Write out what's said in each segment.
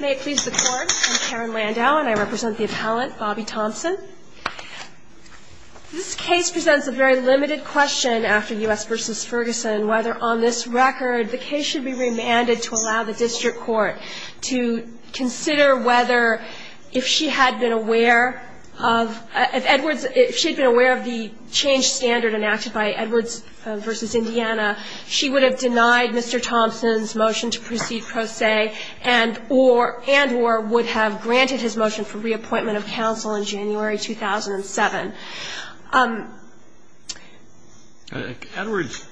May it please the Court, I'm Karen Landau and I represent the appellant, Bobby Thompson. This case presents a very limited question after U.S. v. Ferguson, whether on this record the case should be remanded to allow the district court to consider whether if she had been aware of the changed standard enacted by Edwards v. Indiana, she would have denied Mr. Thompson's motion to proceed pro se and or would have granted his motion for reappointment of counsel in January 2007. Edwards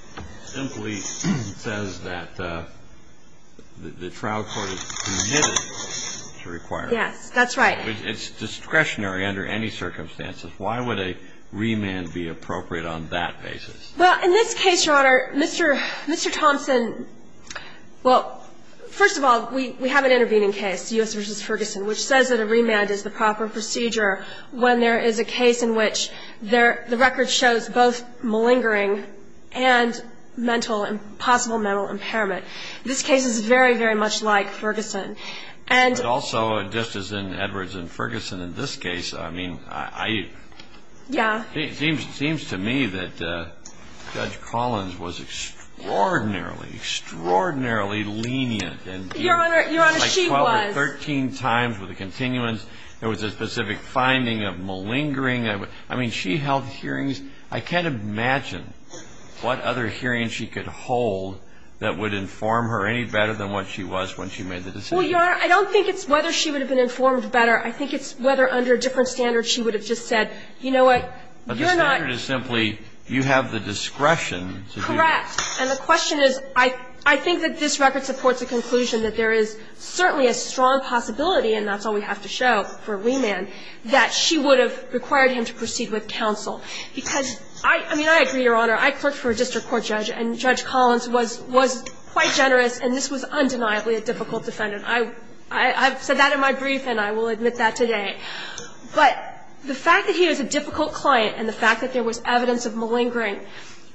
simply says that the trial court is permitted to require it. Yes, that's right. It's discretionary under any circumstances. Why would a remand be appropriate on that basis? Well, in this case, Your Honor, Mr. Thompson, well, first of all, we have an intervening case, U.S. v. Ferguson, which says that a remand is the proper procedure when there is a case in which the record shows both malingering and possible mental impairment. This case is very, very much like Ferguson. But also, just as in Edwards v. Ferguson in this case, I mean, it seems to me that Judge Collins was extraordinarily, extraordinarily lenient. Your Honor, she was. Yes, she was. Like 12 or 13 times with a continuance. There was a specific finding of malingering. I mean, she held hearings. I can't imagine what other hearings she could hold that would inform her any better than what she was when she made the decision. Well, Your Honor, I don't think it's whether she would have been informed better. I think it's whether under a different standard she would have just said, you know what, you're not. But the standard is simply you have the discretion to do that. Correct. And the question is, I think that this record supports the conclusion that there is certainly a strong possibility, and that's all we have to show for remand, that she would have required him to proceed with counsel. Because, I mean, I agree, Your Honor. I clerked for a district court judge, and Judge Collins was quite generous, and this was undeniably a difficult defendant. I've said that in my brief, and I will admit that today. But the fact that he was a difficult client and the fact that there was evidence of malingering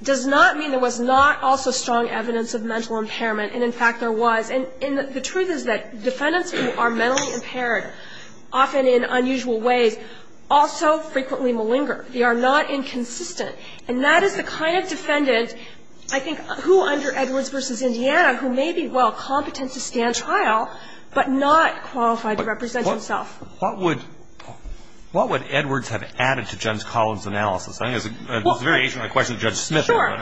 does not mean there was not also strong evidence of mental impairment. And, in fact, there was. And the truth is that defendants who are mentally impaired, often in unusual ways, also frequently malinger. They are not inconsistent. And that is the kind of defendant, I think, who under Edwards v. Indiana, who may be, well, competent to stand trial, but not qualified to represent himself. What would Edwards have added to Judge Collins' analysis? I think it's a variation on the question of Judge Smith. Sure.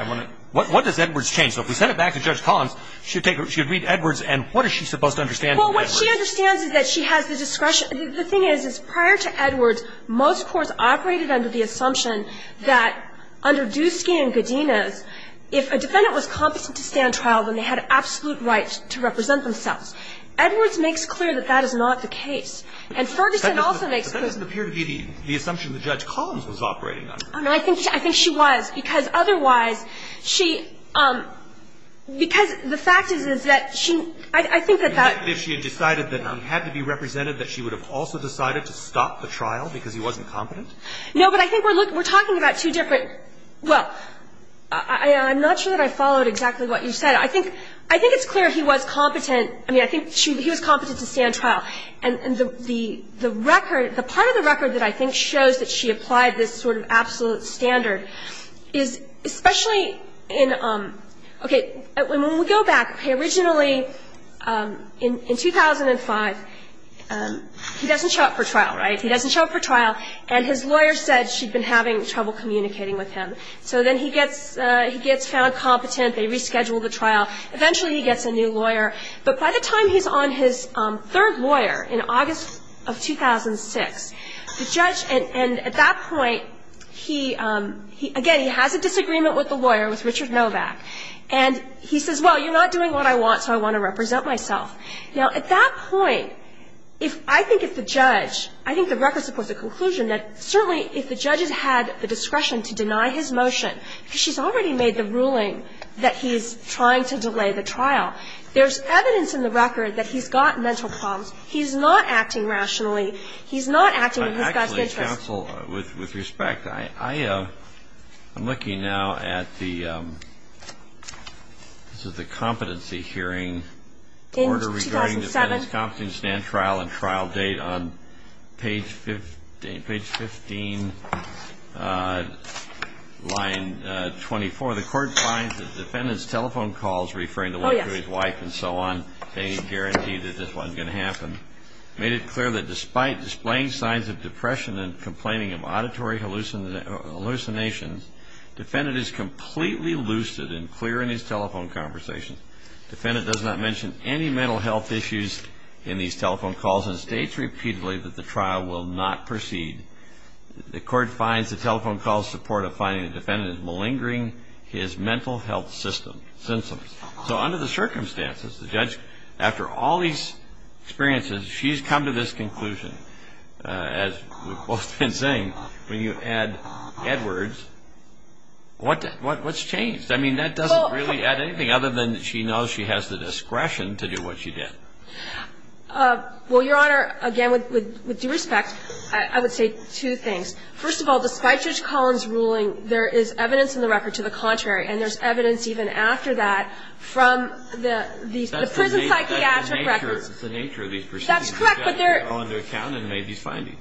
What does Edwards change? So if we send it back to Judge Collins, she would read Edwards, and what is she supposed to understand from Edwards? Well, what she understands is that she has the discretion. The thing is, is prior to Edwards, most courts operated under the assumption that under Dusky and Godinez, if a defendant was competent to stand trial, then they had absolute right to represent themselves. Edwards makes clear that that is not the case. And Ferguson also makes clear that that is not the case. But that doesn't appear to be the assumption that Judge Collins was operating under. And I think she was. Because otherwise, she – because the fact is, is that she – I think that that If she had decided that he had to be represented, that she would have also decided to stop the trial because he wasn't competent? No, but I think we're talking about two different – well, I'm not sure that I followed exactly what you said. I think it's clear he was competent. I mean, I think he was competent to stand trial. And the record – the part of the record that I think shows that she applied this sort of absolute standard is especially in – okay. When we go back, okay, originally in 2005, he doesn't show up for trial, right? He doesn't show up for trial. And his lawyer said she'd been having trouble communicating with him. So then he gets found competent. They reschedule the trial. Eventually he gets a new lawyer. But by the time he's on his third lawyer in August of 2006, the judge – and at that point, he – again, he has a disagreement with the lawyer, with Richard Novak. And he says, well, you're not doing what I want, so I want to represent myself. Now, at that point, if – I think if the judge – I think the record supports the conclusion that certainly if the judge has had the discretion to deny his motion, because she's already made the ruling that he's trying to delay the trial, there's evidence in the record that he's got mental problems. He's not acting rationally. He's not acting in his God's interest. Actually, counsel, with respect, I'm looking now at the – this is the competency hearing. In 2007. Order regarding defendant's competency to stand trial and trial date on page 15, line 24. The court finds that defendant's telephone calls referring to his wife and so on, they guarantee that this wasn't going to happen. Made it clear that despite displaying signs of depression and complaining of auditory hallucinations, defendant is completely lucid and clear in his telephone conversation. Defendant does not mention any mental health issues in these telephone calls and states repeatedly that the trial will not proceed. The court finds the telephone call's support of finding the defendant is malingering his mental health symptoms. So under the circumstances, the judge, after all these experiences, she's come to this conclusion. As we've both been saying, when you add Edwards, what's changed? I mean, that doesn't really add anything other than she knows she has the discretion to do what she did. Well, Your Honor, again, with due respect, I would say two things. First of all, despite Judge Collins' ruling, there is evidence in the record to the contrary, and there's evidence even after that from the prison psychiatric records. That's the nature of these proceedings. That's correct, but they're – The judge took it all into account and made these findings.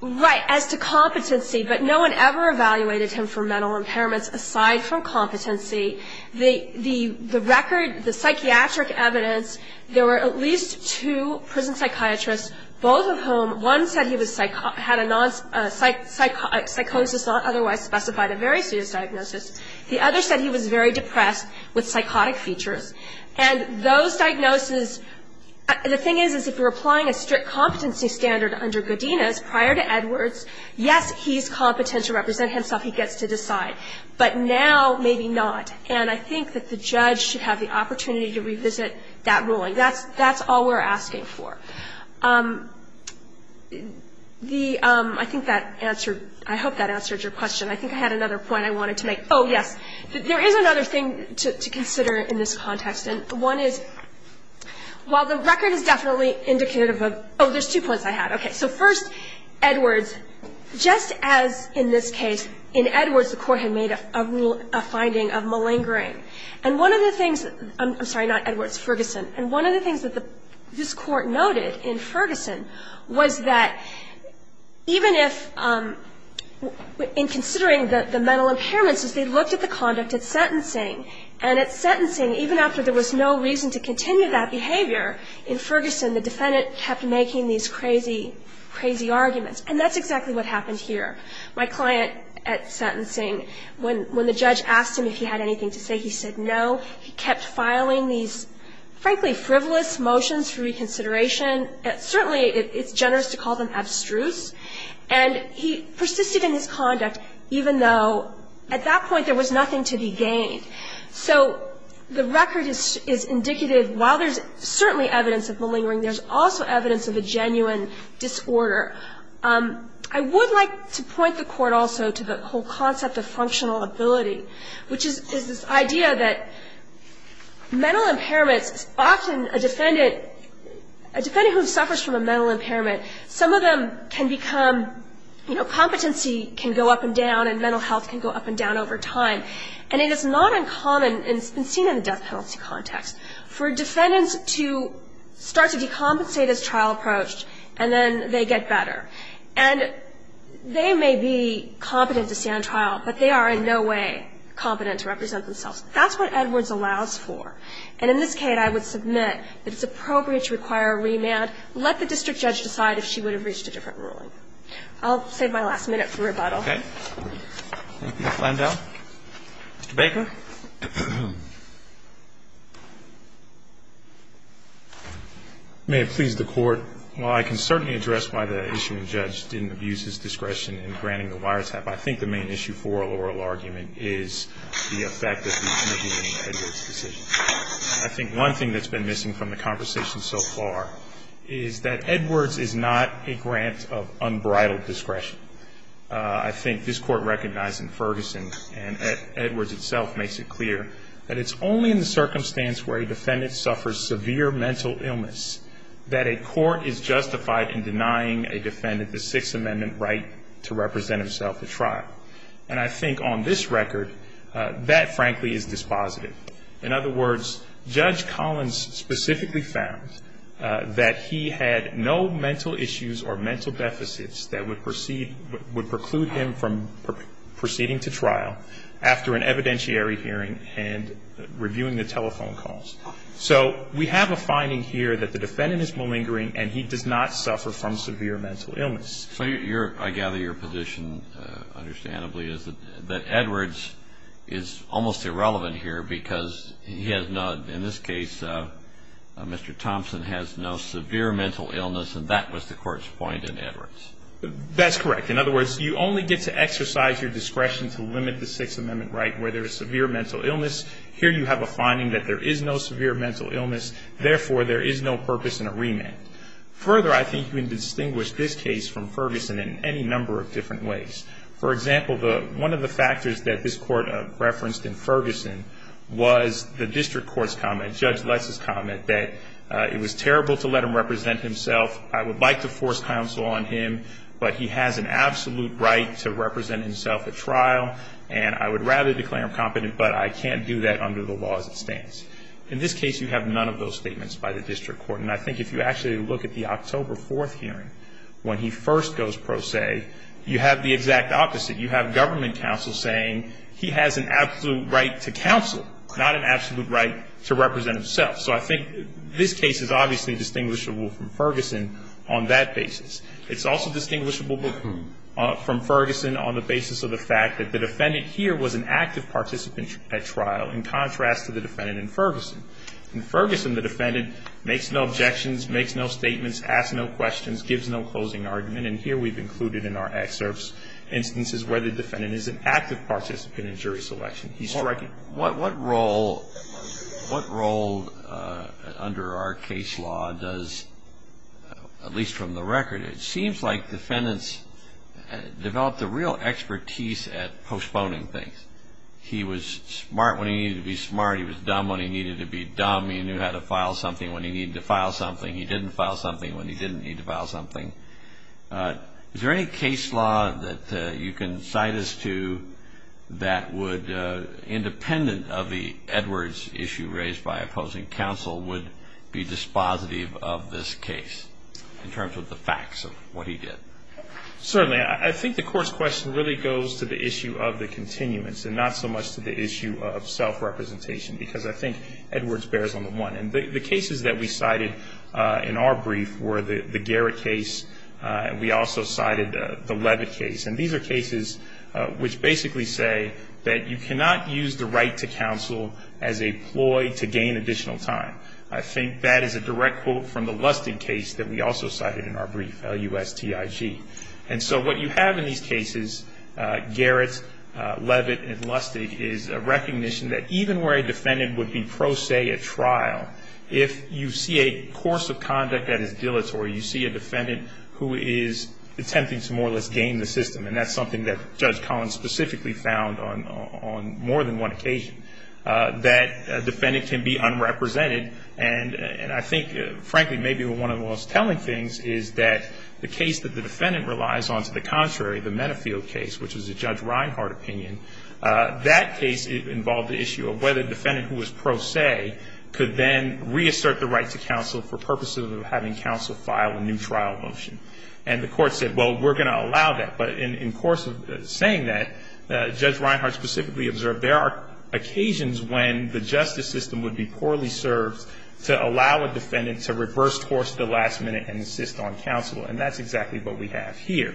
Right. As to competency, but no one ever evaluated him for mental impairments aside from competency. The record, the psychiatric evidence, there were at least two prison psychiatrists, both of whom, one said he had a psychosis not otherwise specified, a very serious diagnosis. The other said he was very depressed with psychotic features. And those diagnoses – the thing is, is if you're applying a strict competency standard under Godinez prior to Edwards, yes, he's competent to represent himself. He gets to decide. But now, maybe not. And I think that the judge should have the opportunity to revisit that ruling. That's all we're asking for. The – I think that answered – I hope that answered your question. I think I had another point I wanted to make. Oh, yes. There is another thing to consider in this context, and one is, while the record is definitely indicative of – oh, there's two points I had. Okay. So first, Edwards, just as in this case, in Edwards the court had made a finding of malingering. And one of the things – I'm sorry, not Edwards, Ferguson. And one of the things that this court noted in Ferguson was that even if – in considering the mental impairments is they looked at the conduct at sentencing. And at sentencing, even after there was no reason to continue that behavior, in Ferguson, the defendant kept making these crazy, crazy arguments. And that's exactly what happened here. My client at sentencing, when the judge asked him if he had anything to say, he said no. He kept filing these, frankly, frivolous motions for reconsideration. Certainly, it's generous to call them abstruse. And he persisted in his conduct, even though at that point there was nothing to be gained. So the record is indicative, while there's certainly evidence of malingering, there's also evidence of a genuine disorder. I would like to point the court also to the whole concept of functional ability, which is this idea that mental impairments often a defendant – a defendant who suffers from a mental impairment, some of them can become – competency can go up and down and mental health can go up and down over time. And it is not uncommon, and it's been seen in the death penalty context, for defendants to start to decompensate as trial approached, and then they get better. And they may be competent to stand trial, but they are in no way competent to represent themselves. That's what Edwards allows for. And in this case, I would submit that it's appropriate to require a remand. Let the district judge decide if she would have reached a different ruling. I'll save my last minute for rebuttal. Okay. Mr. Landau. Mr. Baker. May it please the Court. While I can certainly address why the issuing judge didn't abuse his discretion in granting the wiretap, I think the main issue for oral argument is the effect that the committee made on Edwards' decision. I think one thing that's been missing from the conversation so far is that Edwards is not a grant of unbridled discretion. I think this Court recognized in Ferguson, and Edwards itself makes it clear, that it's only in the circumstance where a defendant suffers severe mental illness that a court is justified in denying a defendant the Sixth Amendment right to represent himself at trial. And I think on this record, that, frankly, is dispositive. In other words, Judge Collins specifically found that he had no mental issues or mental deficits that would preclude him from proceeding to trial after an evidentiary hearing and reviewing the telephone calls. So we have a finding here that the defendant is malingering and he does not suffer from severe mental illness. So I gather your position, understandably, is that Edwards is almost irrelevant here because he has no, in this case, Mr. Thompson has no severe mental illness, and that was the Court's point in Edwards. That's correct. In other words, you only get to exercise your discretion to limit the Sixth Amendment right where there is severe mental illness. Here you have a finding that there is no severe mental illness. Therefore, there is no purpose in a remand. Further, I think you can distinguish this case from Ferguson in any number of different ways. For example, one of the factors that this Court referenced in Ferguson was the District Court's comment, Judge Les' comment, that it was terrible to let him represent himself. I would like to force counsel on him, but he has an absolute right to represent himself at trial, and I would rather declare him competent, but I can't do that under the law as it stands. In this case, you have none of those statements by the District Court, and I think if you actually look at the October 4th hearing when he first goes pro se, you have the exact opposite. You have government counsel saying he has an absolute right to counsel, not an absolute right to represent himself. So I think this case is obviously distinguishable from Ferguson on that basis. It's also distinguishable from Ferguson on the basis of the fact that the defendant here was an active participant at trial, in contrast to the defendant in Ferguson. In Ferguson, the defendant makes no objections, makes no statements, asks no questions, gives no closing argument, and here we've included in our excerpts instances where the defendant is an active participant in jury selection. He's striking. What role under our case law does, at least from the record, it seems like defendants develop the real expertise at postponing things. He was smart when he needed to be smart. He was dumb when he needed to be dumb. He knew how to file something when he needed to file something. He didn't file something when he didn't need to file something. Is there any case law that you can cite us to that would, independent of the Edwards issue raised by opposing counsel, would be dispositive of this case in terms of the facts of what he did? Certainly. I think the court's question really goes to the issue of the continuance and not so much to the issue of self-representation because I think Edwards bears on the one. The cases that we cited in our brief were the Garrett case. We also cited the Levitt case, and these are cases which basically say that you cannot use the right to counsel as a ploy to gain additional time. I think that is a direct quote from the Lustig case that we also cited in our brief, L-U-S-T-I-G. And so what you have in these cases, Garrett, Levitt, and Lustig is a recognition that even where a defendant would be pro se at trial, if you see a course of conduct that is dilatory, you see a defendant who is attempting to more or less gain the system, and that's something that Judge Collins specifically found on more than one occasion, that a defendant can be unrepresented. And I think, frankly, maybe one of the most telling things is that the case that the defendant relies on to the contrary, the Menafield case, which was a Judge Reinhardt opinion, that case involved the issue of whether a defendant who was pro se could then reassert the right to counsel for purposes of having counsel file a new trial motion. And the court said, well, we're going to allow that. But in the course of saying that, Judge Reinhardt specifically observed there are occasions when the justice system would be poorly served to allow a defendant to reverse course at the last minute and insist on counsel, and that's exactly what we have here.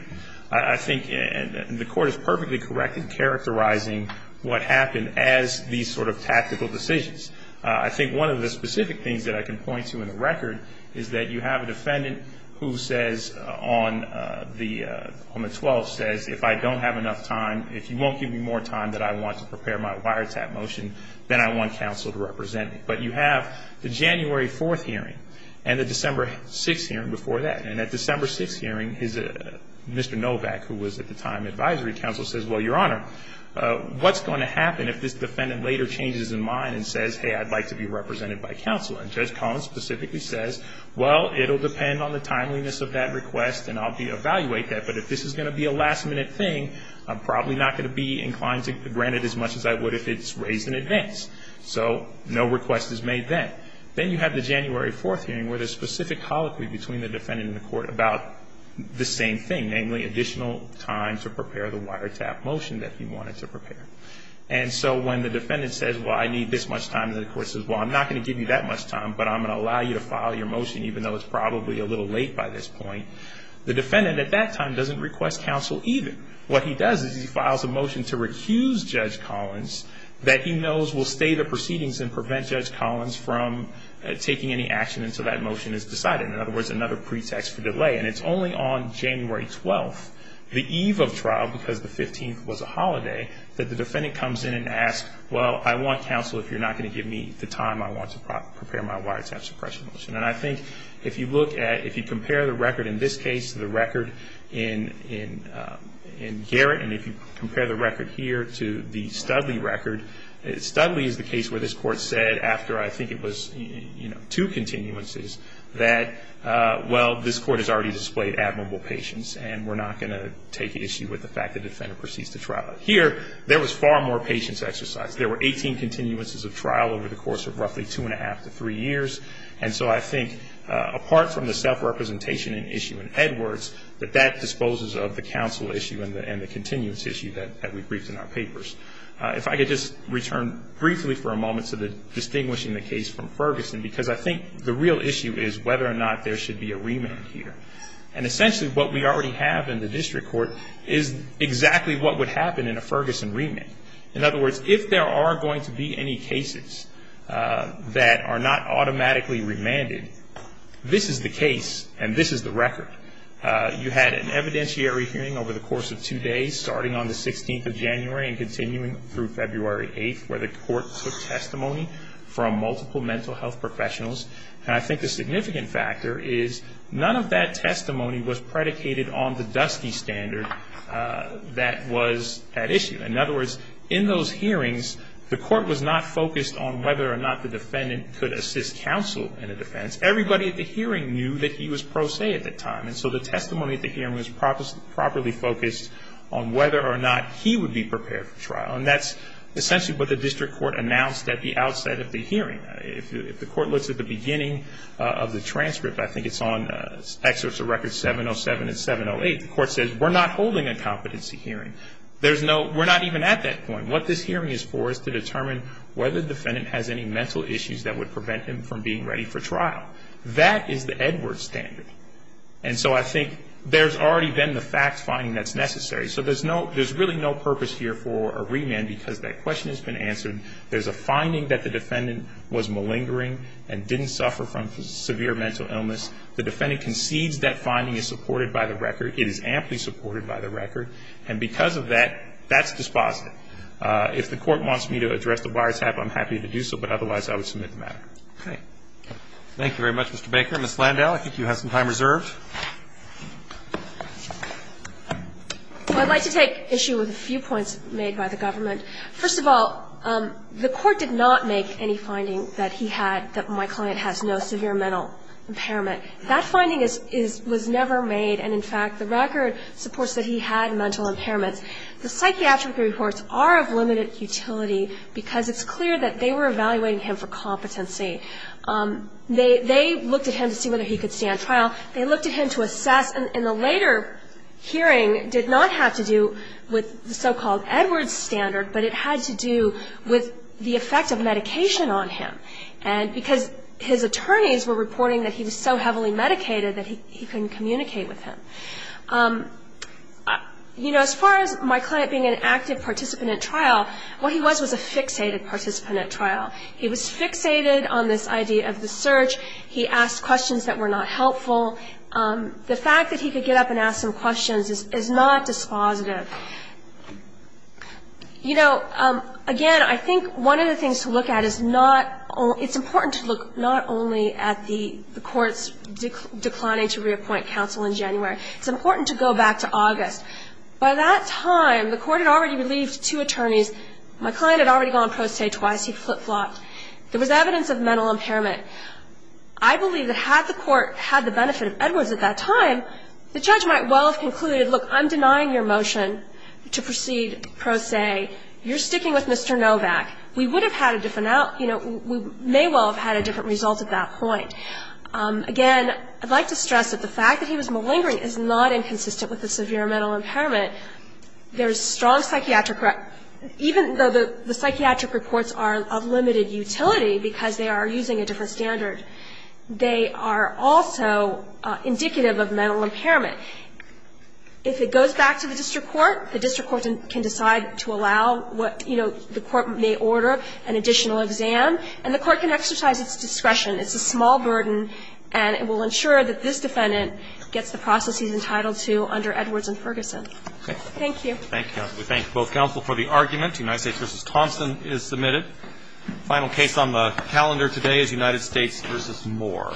I think the court is perfectly correct in characterizing what happened as these sort of tactical decisions. I think one of the specific things that I can point to in the record is that you have a defendant who says, on the 12th, says, if I don't have enough time, if you won't give me more time that I want to prepare my wiretap motion, then I want counsel to represent me. But you have the January 4th hearing and the December 6th hearing before that. And at the December 6th hearing, Mr. Novak, who was at the time advisory counsel, says, well, Your Honor, what's going to happen if this defendant later changes his mind and says, hey, I'd like to be represented by counsel? And Judge Collins specifically says, well, it will depend on the timeliness of that request and I'll evaluate that. But if this is going to be a last minute thing, I'm probably not going to be inclined to grant it as much as I would if it's raised in advance. So no request is made then. Then you have the January 4th hearing where there's specific colloquy between the defendant and the court about the same thing, namely additional time to prepare the wiretap motion that he wanted to prepare. And so when the defendant says, well, I need this much time, and the court says, well, I'm not going to give you that much time, but I'm going to allow you to file your motion even though it's probably a little late by this point, the defendant at that time doesn't request counsel either. What he does is he files a motion to recuse Judge Collins that he knows will stay the proceedings and prevent Judge Collins from taking any action until that motion is decided. In other words, another pretext for delay. And it's only on January 12th, the eve of trial, because the 15th was a holiday, that the defendant comes in and asks, well, I want counsel if you're not going to give me the time I want to prepare my wiretap suppression motion. And I think if you compare the record in this case to the record in Garrett, and if you compare the record here to the Studley record, Studley is the case where this court said after I think it was two continuances that, well, this court has already displayed admirable patience, and we're not going to take issue with the fact the defendant proceeds to trial. Here, there was far more patience exercised. There were 18 continuances of trial over the course of roughly two and a half to three years. And so I think apart from the self-representation issue in Edwards, that that disposes of the counsel issue and the continuance issue that we briefed in our papers. If I could just return briefly for a moment to the distinguishing the case from Ferguson, because I think the real issue is whether or not there should be a remand here. And essentially what we already have in the district court is exactly what would happen in a Ferguson remand. In other words, if there are going to be any cases that are not automatically remanded, this is the case and this is the record. You had an evidentiary hearing over the course of two days starting on the 16th of January and continuing through February 8th where the court took testimony from multiple mental health professionals. And I think the significant factor is none of that testimony was predicated on the dusty standard that was at issue. In other words, in those hearings, the court was not focused on whether or not the defendant could assist counsel in a defense. Everybody at the hearing knew that he was pro se at that time. And so the testimony at the hearing was properly focused on whether or not he would be prepared for trial. And that's essentially what the district court announced at the outset of the hearing. If the court looks at the beginning of the transcript, I think it's on excerpts of records 707 and 708, the court says we're not holding a competency hearing. We're not even at that point. And what this hearing is for is to determine whether the defendant has any mental issues that would prevent him from being ready for trial. That is the Edward standard. And so I think there's already been the fact finding that's necessary. So there's really no purpose here for a remand because that question has been answered. There's a finding that the defendant was malingering and didn't suffer from severe mental illness. The defendant concedes that finding is supported by the record. And because of that, that's dispositive. If the court wants me to address the wiretap, I'm happy to do so, but otherwise I would submit the matter. Roberts. Thank you very much, Mr. Baker. Ms. Landau, I think you have some time reserved. Landau I'd like to take issue with a few points made by the government. First of all, the court did not make any finding that he had, that my client has no severe mental impairment. That finding was never made. And, in fact, the record supports that he had mental impairments. The psychiatric reports are of limited utility because it's clear that they were evaluating him for competency. They looked at him to see whether he could stand trial. They looked at him to assess. And the later hearing did not have to do with the so-called Edward standard, but it had to do with the effect of medication on him. And because his attorneys were reporting that he was so heavily medicated that he couldn't communicate with him. You know, as far as my client being an active participant at trial, what he was was a fixated participant at trial. He was fixated on this idea of the search. He asked questions that were not helpful. The fact that he could get up and ask some questions is not dispositive. You know, again, I think one of the things to look at is not, it's important to look not only at the court's declining to reappoint counsel in January. It's important to go back to August. By that time, the court had already relieved two attorneys. My client had already gone pro se twice. He flip-flopped. There was evidence of mental impairment. I believe that had the court had the benefit of Edwards at that time, the judge might well have concluded, look, I'm denying your motion to proceed pro se. You're sticking with Mr. Novak. We would have had a different, you know, we may well have had a different result at that point. Again, I'd like to stress that the fact that he was malingering is not inconsistent with a severe mental impairment. There's strong psychiatric, even though the psychiatric reports are of limited utility because they are using a different standard, they are also indicative of mental impairment. If it goes back to the district court, the district court can decide to allow what, you know, the court may order an additional exam. And the court can exercise its discretion. It's a small burden, and it will ensure that this defendant gets the process he's entitled to under Edwards and Ferguson. Thank you. Roberts. We thank both counsel for the argument. United States v. Thompson is submitted. The final case on the calendar today is United States v. Moore.